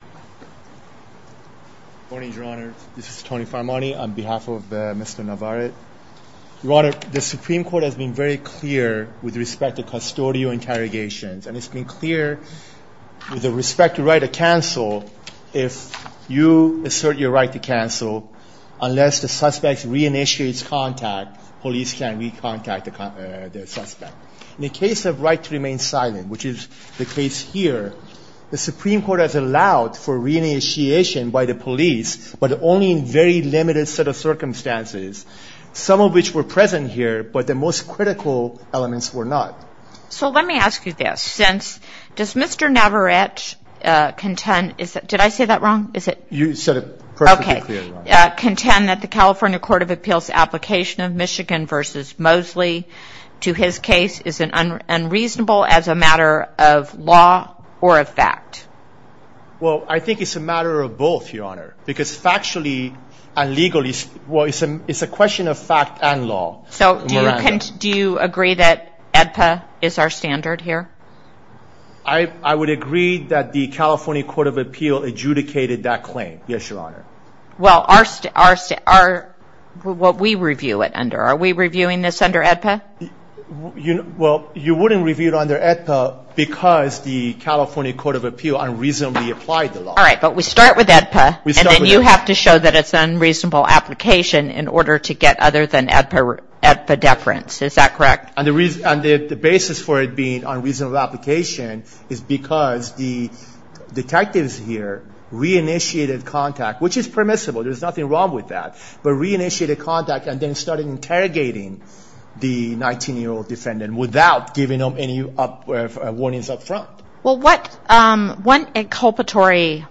Good morning, Your Honor. This is Tony Farmani on behalf of Mr. Navarette. Your Honor, the Supreme Court has been very clear with respect to custodial interrogations, and it's been clear with respect to the right to cancel, if you assert your right to cancel, unless the suspect re-initiates contact, police can re-contact the suspect. In the case of right to remain silent, which is the case here, the Supreme Court has allowed for re-initiation by the police, but only in very limited set of circumstances, some of which were present here, but the most critical elements were not. So let me ask you this. Since, does Mr. Navarette contend, is that, did I say that wrong? Is it? You said it perfectly clear, Your Honor. Okay. Contend that the California Court of Appeals application of Michigan v. Mosley to his case is unreasonable as a matter of law or a fact? Well I think it's a matter of both, Your Honor, because factually and legally, well it's a question of fact and law. So do you agree that AEDPA is our standard here? I would agree that the California Court of Appeals adjudicated that claim, yes, Your Honor. Well are, what we review it under, are we reviewing this under AEDPA? Well you wouldn't review it under AEDPA because the California Court of Appeals unreasonably applied the law. All right, but we start with AEDPA and then you have to show that it's an unreasonable application in order to get other than AEDPA deference. Is that correct? And the basis for it being an unreasonable application is because the detectives here re-initiated contact, which is permissible, there's nothing wrong with that, but re-initiated contact and then started interrogating the 19-year-old defendant without giving them any warnings up front. Well what, what inculpatory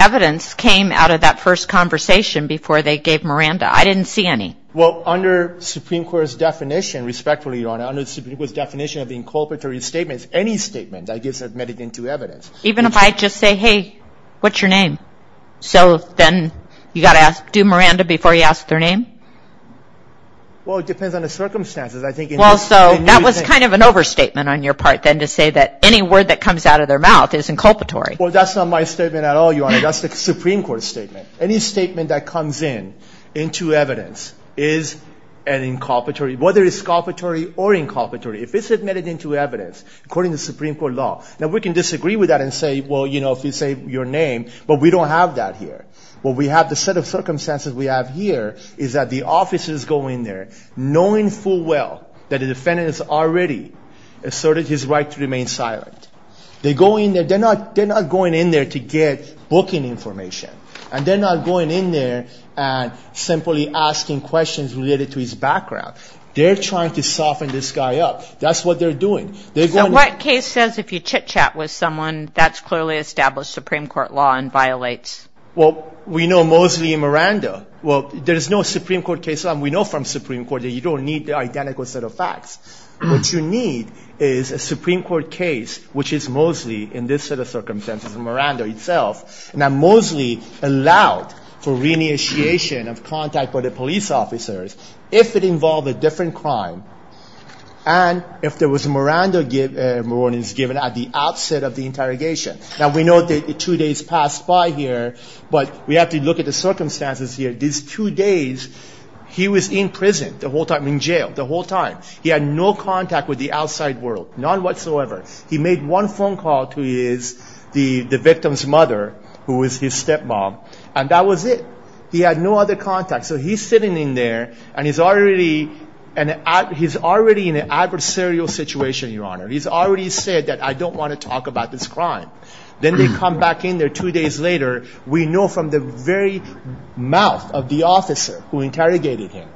evidence came out of that first conversation before they gave Miranda? I didn't see any. Well under Supreme Court's definition, respectfully, Your Honor, under the Supreme Court's definition of the inculpatory statements, any statement that gets admitted into evidence. Even if I just say, hey, what's your name? So then you got to ask, do Miranda before you ask their name? Well it depends on the circumstances. I think in this, in your case. Well so that was kind of an overstatement on your part then to say that any word that comes out of their mouth is inculpatory. Well that's not my statement at all, Your Honor. That's the Supreme Court's statement. Any statement that comes in, into evidence, is an inculpatory, whether it's inculpatory or inculpatory. If it's admitted into evidence, according to Supreme Court law, now we can disagree with that and say, well, you know, if you say your name, but we don't have that here. What we have, the set of circumstances we have here, is that the officers go in there knowing full well that the defendant has already asserted his right to remain silent. They go in there, they're not, they're not going in there to get booking information. And they're not going in there and simply asking questions related to his background. They're trying to soften this guy up. That's what they're doing. So what case says if you chit chat with someone, that's clearly established Supreme Court law and violates? Well, we know Mosley and Miranda. Well, there's no Supreme Court case, and we know from Supreme Court that you don't need the identical set of facts. What you need is a Supreme Court case, which is Mosley, in this set of circumstances, and Miranda itself. Now Mosley allowed for re-initiation of contact with the police officers if it involved a different crime. And if there was, Miranda is given at the outset of the interrogation. Now we know that two days passed by here, but we have to look at the circumstances here. These two days, he was in prison the whole time, in jail the whole time. He had no contact with the outside world, none whatsoever. He made one phone call to his, the victim's mother, who was his step-mom, and that was it. He had no other contact. So he's sitting in there, and he's already an, he's already in an adversarial situation, Your Honor. He's already said that, I don't want to talk about this crime. Then they come back in there two days later. We know from the very mouth of the officer who interrogated him,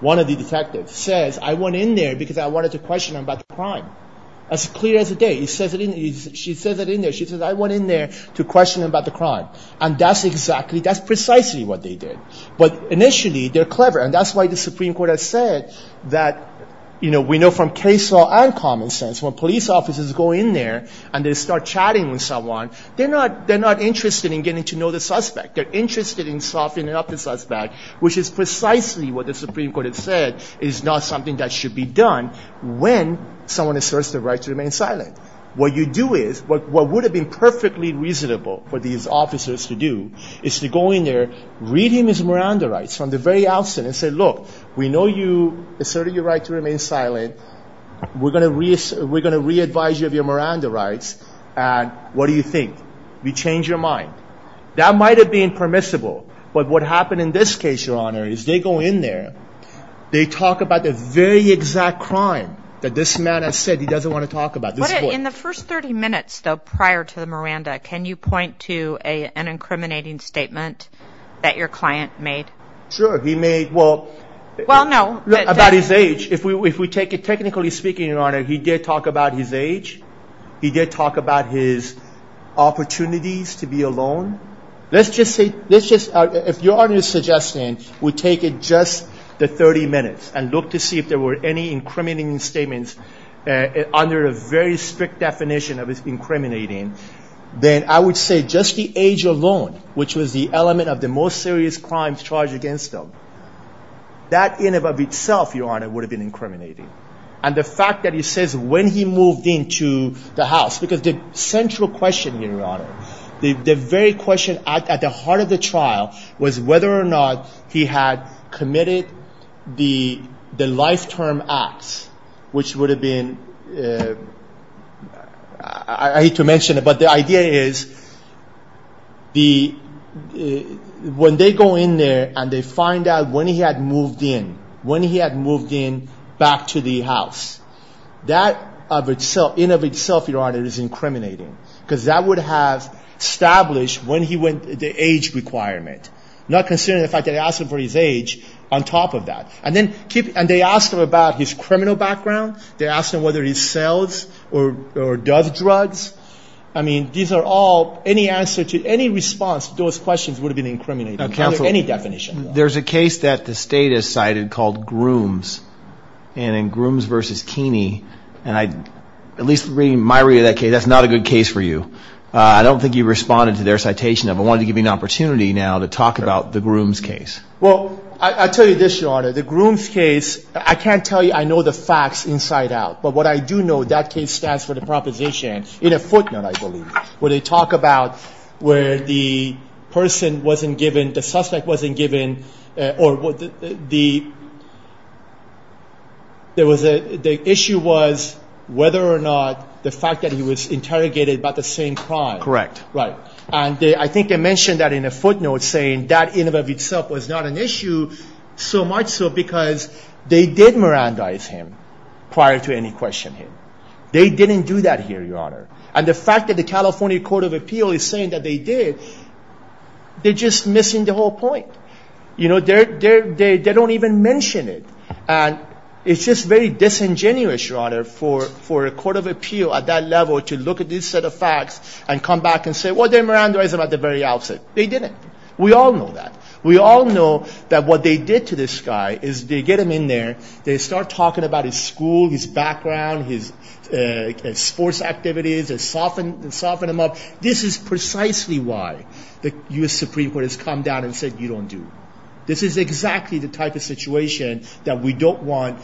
one of the detectives, says, I went in there because I wanted to question him about the crime. As clear as day. He says it in, she says it in there. She says, I went in there to question him about the crime. And that's exactly, that's precisely what they did. But initially, they're clever, and that's why the Supreme Court has said that, you know, we know from case law and common sense, when police officers go in there and they start chatting with someone, they're not, they're not interested in getting to know the suspect. They're interested in softening up the suspect, which is precisely what the Supreme Court has said is not something that should be done when someone asserts the right to remain silent. What you do is, what would have been perfectly reasonable for these officers to do is to go in there, read him his Miranda rights from the very outset and say, look, we know you asserted your right to remain silent. We're going to reassert, we're going to re-advise you of your Miranda rights. And what do you think? We change your mind. That might have been permissible. But what happened in this case, Your Honor, is they go in there, they talk about the very exact crime that this man has said he doesn't want to talk about. In the first 30 minutes, though, prior to the Miranda, can you point to an incriminating statement that your client made? Sure. He made, well, about his age. If we take it, technically speaking, Your Honor, he did talk about his age. He did talk about his opportunities to be alone. Let's just say, let's just, if Your Honor is suggesting we take it just the 30 minutes and look to see if there were any incriminating statements under a very strict definition of incriminating, then I would say just the age alone, which was the element of the most serious crimes charged against him, that in and of itself, Your Honor, would have been incriminating. And the fact that he says when he moved into the house, because the central question here, Your Honor, the very question at the heart of the trial was whether or not he had committed the life-term acts, which would have been, I hate to mention it, but the idea is when they go in there and they find out when he had moved in, when he had moved in back to the house, that in and of itself, Your Honor, is incriminating, because that would have established when he went, the age requirement, not considering the fact that he asked for his age on top of that. And they ask him about his criminal background, they ask him whether he sells or does drugs. I mean, these are all, any answer to any response to those questions would have been incriminating under any definition. There's a case that the State has cited called Grooms, and in Grooms v. Keeney, and I, at least reading my read of that case, that's not a good case for you. I don't think you responded to their citation of it. I wanted to give you an opportunity now to talk about the Grooms case. Well, I'll tell you this, Your Honor. The Grooms case, I can't tell you, I know the facts inside out. But what I do know, that case stands for the proposition, in a footnote, I believe, where they talk about where the person wasn't given, the suspect wasn't given, or what the, there was a, the issue was whether or not the fact that he was interrogated about the same crime. Correct. Right. And I think they mentioned that in a footnote, saying that in and of itself was not an issue, so much so because they did Mirandize him prior to any questioning. They didn't do that here, Your Honor. And the fact that the California Court of Appeal is saying that they did, they're just missing the whole point. You know, they're, they're, they don't even mention it. And it's just very disingenuous, Your Honor, for, for a Court of Appeal at that level to look at this set of facts and come back and say, well, they did Mirandize him at the very outset. They didn't. We all know that. We all know that what they did to this guy is they get him in there, they start talking about his school, his background, his, his sports activities, they soften, soften him up. This is precisely why the U.S. Supreme Court has come down and said, you don't do. This is exactly the type of situation that we don't want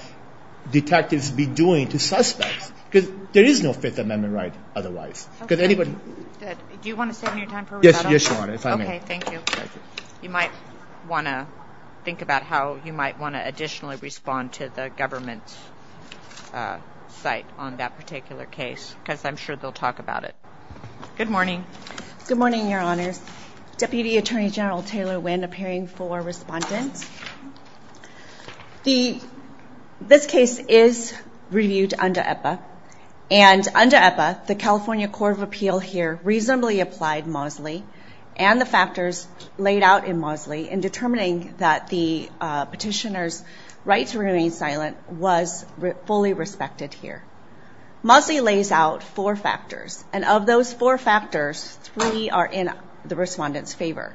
detectives to be doing to suspects, because there is no Fifth Amendment right otherwise, because anybody- Do you want to save me time for rebuttal? Yes, Your Honor, if I may. Okay, thank you. You might want to think about how you might want to additionally respond to the government's, uh, site on that particular case, because I'm sure they'll talk about it. Good morning. Good morning, Your Honors. Deputy Attorney General Taylor Wynn appearing for respondents. The, this case is reviewed under EPA and under EPA, the California Court of Appeal here reasonably applied Mosley and the factors laid out in Mosley in determining that the, uh, petitioner's right to remain silent was fully respected here. Mosley lays out four factors and of those four factors, three are in the respondent's favor.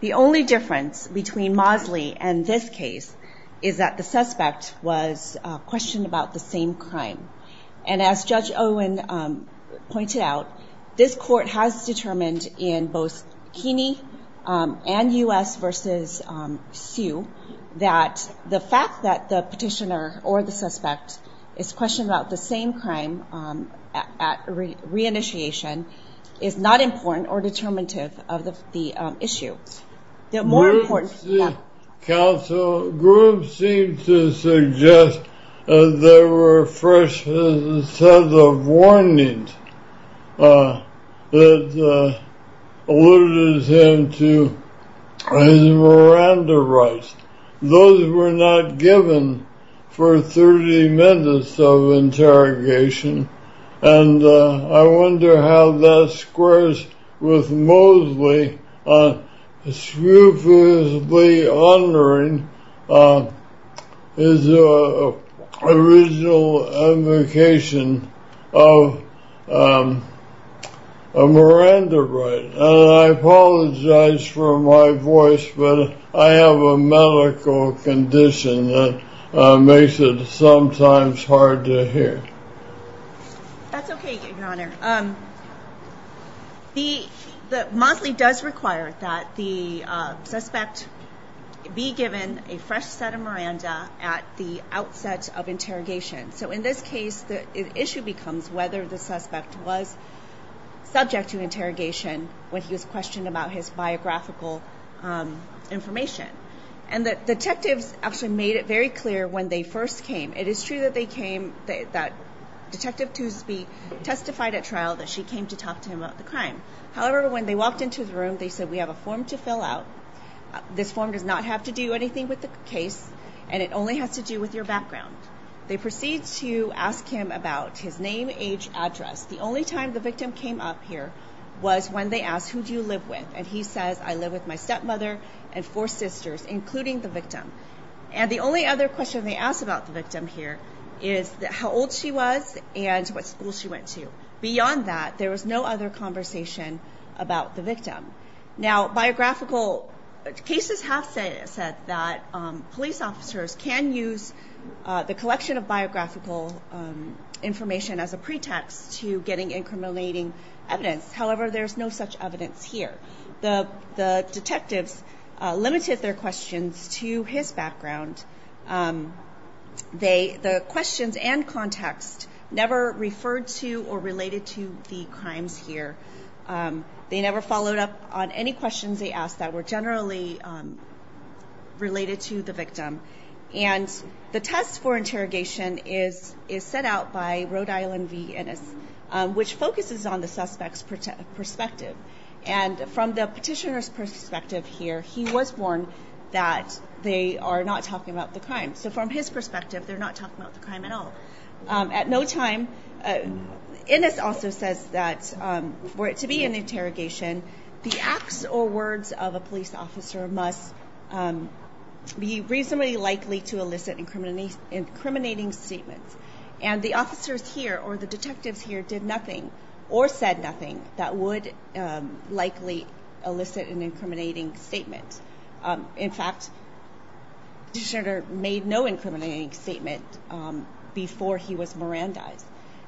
The only difference between Mosley and this case is that the suspect was, uh, questioned about the same crime. And as Judge Owen, um, pointed out, this court has determined in both Keeney, um, and U.S. versus, um, Sioux that the fact that the petitioner or the suspect is questioned about the same crime, um, at re, re-initiation is not important or determinative of the, the, um, issue. The more important- Yeah. Counsel, Grubbs seemed to suggest, uh, there were fresh, uh, set of warnings, uh, that, uh, alluded him to his Miranda rights. Those were not given for 30 minutes of interrogation and, uh, I wonder how that squares with Mosley, uh, scrupulously honoring, uh, his, uh, original invocation of, um, a Miranda right. And I apologize for my voice, but I have a medical condition that, uh, makes it sometimes hard to hear. That's okay, Your Honor. Um, the, the, Mosley does require that the, uh, suspect be given a fresh set of Miranda at the outset of interrogation. So in this case, the issue becomes whether the suspect was subject to interrogation when he was questioned about his biographical, um, information. And the detectives actually made it very clear when they first came. It is true that they came, that, that Detective Toosby testified at trial that she came to talk to him about the crime. However, when they walked into the room, they said, we have a form to fill out. This form does not have to do anything with the case and it only has to do with your background. They proceed to ask him about his name, age, address. The only time the victim came up here was when they asked, who do you live with? And he says, I live with my stepmother and four sisters, including the victim. And the only other question they asked about the victim here is how old she was and what school she went to. Beyond that, there was no other conversation about the victim. Now, biographical cases have said that, um, police officers can use, uh, the collection of biographical, um, information as a pretext to getting incriminating evidence. However, there's no such evidence here. The detectives, uh, limited their questions to his background. Um, they, the questions and context never referred to or related to the crimes here. Um, they never followed up on any questions they asked that were generally, um, related to the victim. And the test for interrogation is, is set out by Rhode Island V. Ennis, um, which focuses on the suspect's perspective. And from the petitioner's perspective here, he was warned that they are not talking about the crime. So from his perspective, they're not talking about the crime at all. Um, at no time, uh, Ennis also says that, um, for it to be an interrogation, the acts or words of a police officer must, um, be reasonably likely to elicit incriminating statements. And the officers here, or the detectives here, did nothing or said nothing that would, um, likely elicit an incriminating statement. Um, in fact, the petitioner made no incriminating statement, um, before he was Mirandized.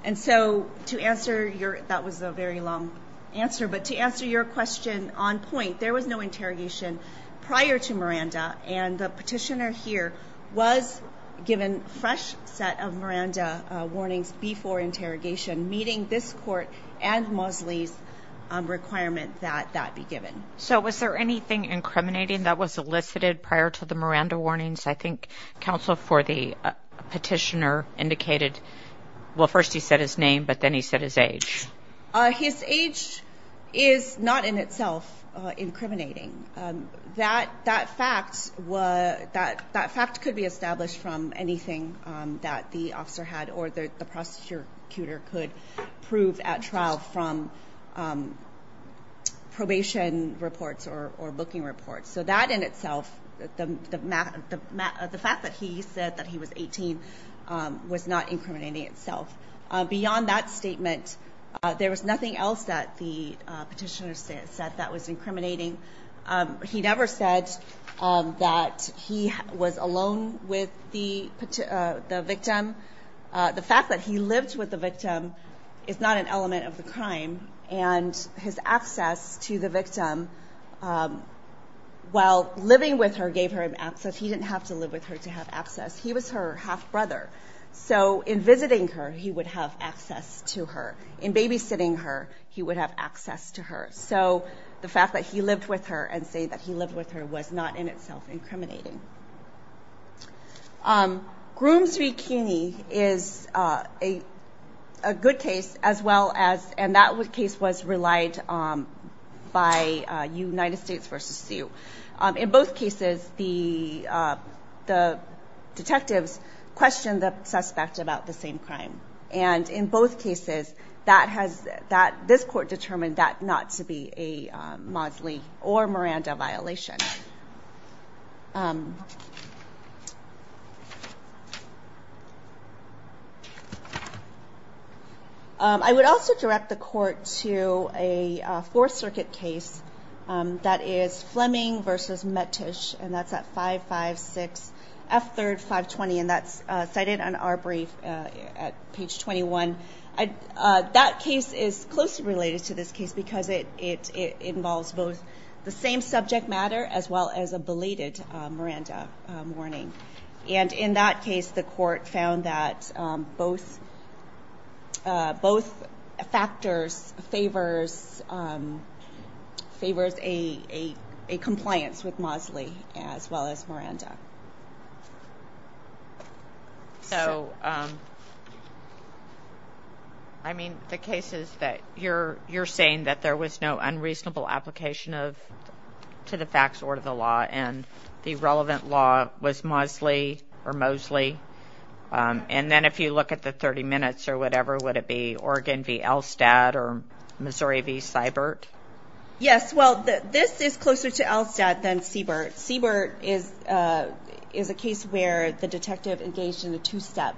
And so to answer your, that was a very long answer, but to answer your question on point, there was no interrogation prior to Miranda. And the petitioner here was given fresh set of Miranda, uh, warnings before interrogation meeting this court and Mosley's, um, requirement that that be given. So was there anything incriminating that was elicited prior to the Miranda warnings? I think counsel for the petitioner indicated, well, first he said his name, but then he said his age. Uh, his age is not in itself, uh, incriminating, um, that, that facts were that that fact could be established from anything, um, that the officer had or the, the prosecutor could prove at trial from, um, probation reports or, or booking reports. So that in itself, the, the math, the math, the fact that he said that he was 18, um, was not incriminating itself. Uh, beyond that statement, uh, there was nothing else that the, uh, petitioner said, said that was incriminating. Um, he never said, um, that he was alone with the victim. Uh, the fact that he lived with the victim is not an element of the crime and his access to the victim, um, while living with her gave her access. He didn't have to her, he would have access to her in babysitting her. He would have access to her. So the fact that he lived with her and say that he lived with her was not in itself incriminating. Um, grooms V. Kenney is, uh, a, a good case as well as, and that would case was relied on by a United States versus you. Um, in both cases, the, uh, the detectives questioned the suspect about the same crime. And in both cases that has that this court determined that not to be a, um, Mosley or Miranda violation. Um, I would also direct the court to a, uh, fourth circuit case, um, that is Fleming versus met ish. And that's at five, five, six F third five 20. And that's cited on our brief, uh, at page 21. I, uh, that case is closely related to this case because it, it, it involves both the same subject matter as well as a belated, uh, Miranda, um, warning. And in that case, the court found that, um, both, uh, both factors favors, um, favors a, a, a compliance with Mosley as well as Miranda. So, um, I mean, the cases that you're, you're saying that there was no unreasonable application of, to the facts or to the law and the relevant law was Mosley or Mosley. Um, and then if you look at the 30 minutes or whatever, would it be Oregon V. Elstad or Missouri V. Seibert? Yes. Well, this is closer to Elstad than Seibert. Seibert is, uh, is a case where the detective engaged in a two-step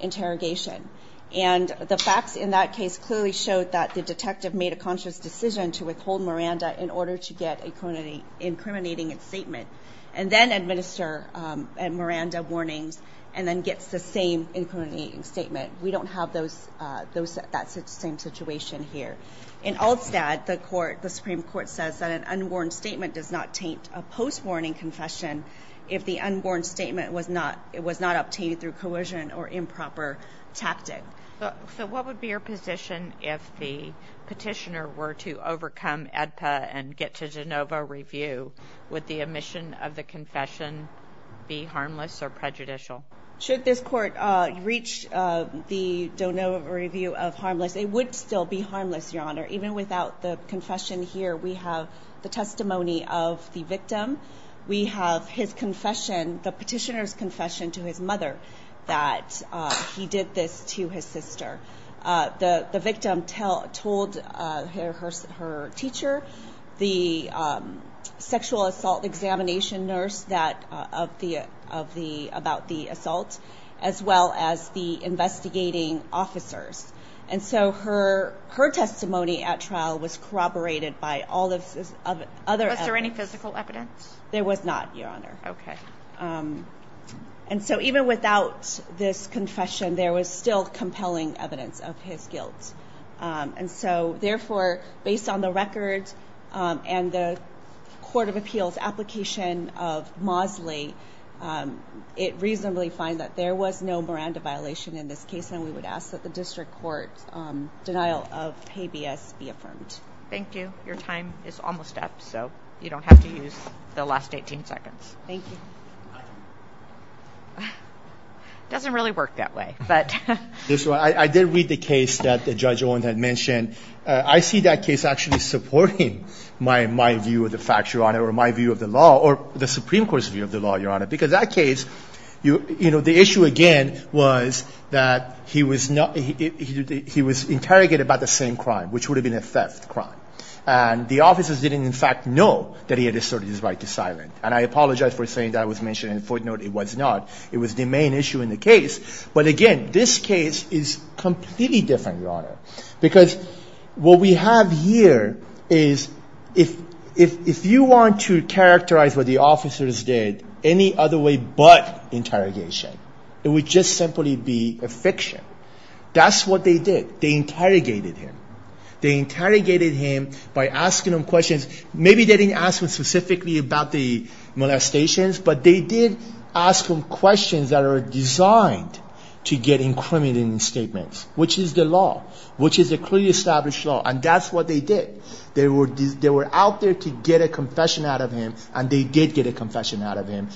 interrogation. And the facts in that case clearly showed that the detective made a conscious decision to withhold Miranda in order to get a criminally incriminating statement and then administer, um, and Miranda warnings and then gets the same incriminating statement. We don't have those, uh, those, that's the same situation here. In Elstad, the court, the Supreme Court says that an unworn statement does not taint a post-warning confession if the unborn statement was not, it was not obtained through coercion or improper tactic. So, so what would be your position if the petitioner were to overcome AEDPA and get to de novo review? Would the omission of the confession be harmless or prejudicial? Should this court, uh, reach, uh, the de novo review of harmless? It would still be harmless, Your Honor. Even without the confession here, we have the testimony of the victim. We have his confession, the petitioner's confession to his mother that, uh, he did this to his sister. Uh, the, the victim tell, told, uh, her, her, her teacher, the, um, sexual assault examination nurse that, uh, of the, of the, about the assault, as well as the investigating officers. And so her, her testimony at trial was corroborated by all of the other evidence. Was there any physical evidence? There was not, Your Honor. Okay. Um, and so even without this confession, there was still compelling evidence of his guilt. Um, and so therefore, based on the records, um, and the court of appeals application of Mosley, um, it reasonably finds that there was no Miranda violation in this case. And we would ask that the district court, um, denial of habeas be affirmed. Thank you. Your time is almost up, so you don't have to use the last 18 seconds. Thank you. Doesn't really work that way, but... This one, I, I did read the case that Judge Owen had mentioned. Uh, I see that case actually supporting my, my view of the facts, Your Honor, or my view of the law or the Supreme Court's view of the law, Your Honor. Because that case, you, you know, the issue again was that he was not, he, he, he, he, he was interrogated about the same crime, which would have been a theft crime. And the officers didn't in fact know that he had asserted his right to silence. And I apologize for saying that was mentioned in the footnote. It was not. It was the main issue in the case. But again, this case is completely different, Your Honor. Because what we have here is if, if, if you want to characterize what the officers did any other way but interrogation, it would just simply be a fiction. That's what they did. They interrogated him. They interrogated him by asking him questions. Maybe they didn't ask him specifically about the molestations, but they did ask him questions that are designed to get incriminating statements, which is the law, which is a clearly established law. And that's what they did. They were, they were out there to get a confession out of him. And they did get a confession out of him,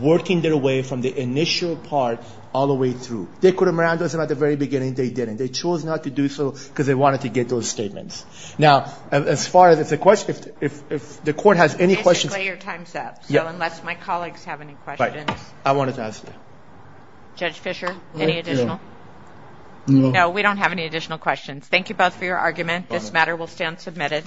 working their way from the initial part all the way through. They could have maraned those at the very beginning. They didn't. They chose not to do so because they wanted to get those statements. Now, as far as it's a question, if, if, if the court has any questions. Mr. Klay, your time's up. Yeah. So unless my colleagues have any questions. Right. I wanted to ask you. Judge Fischer, any additional? No. No, we don't have any additional questions. Thank you both for your argument. This matter will stand submitted.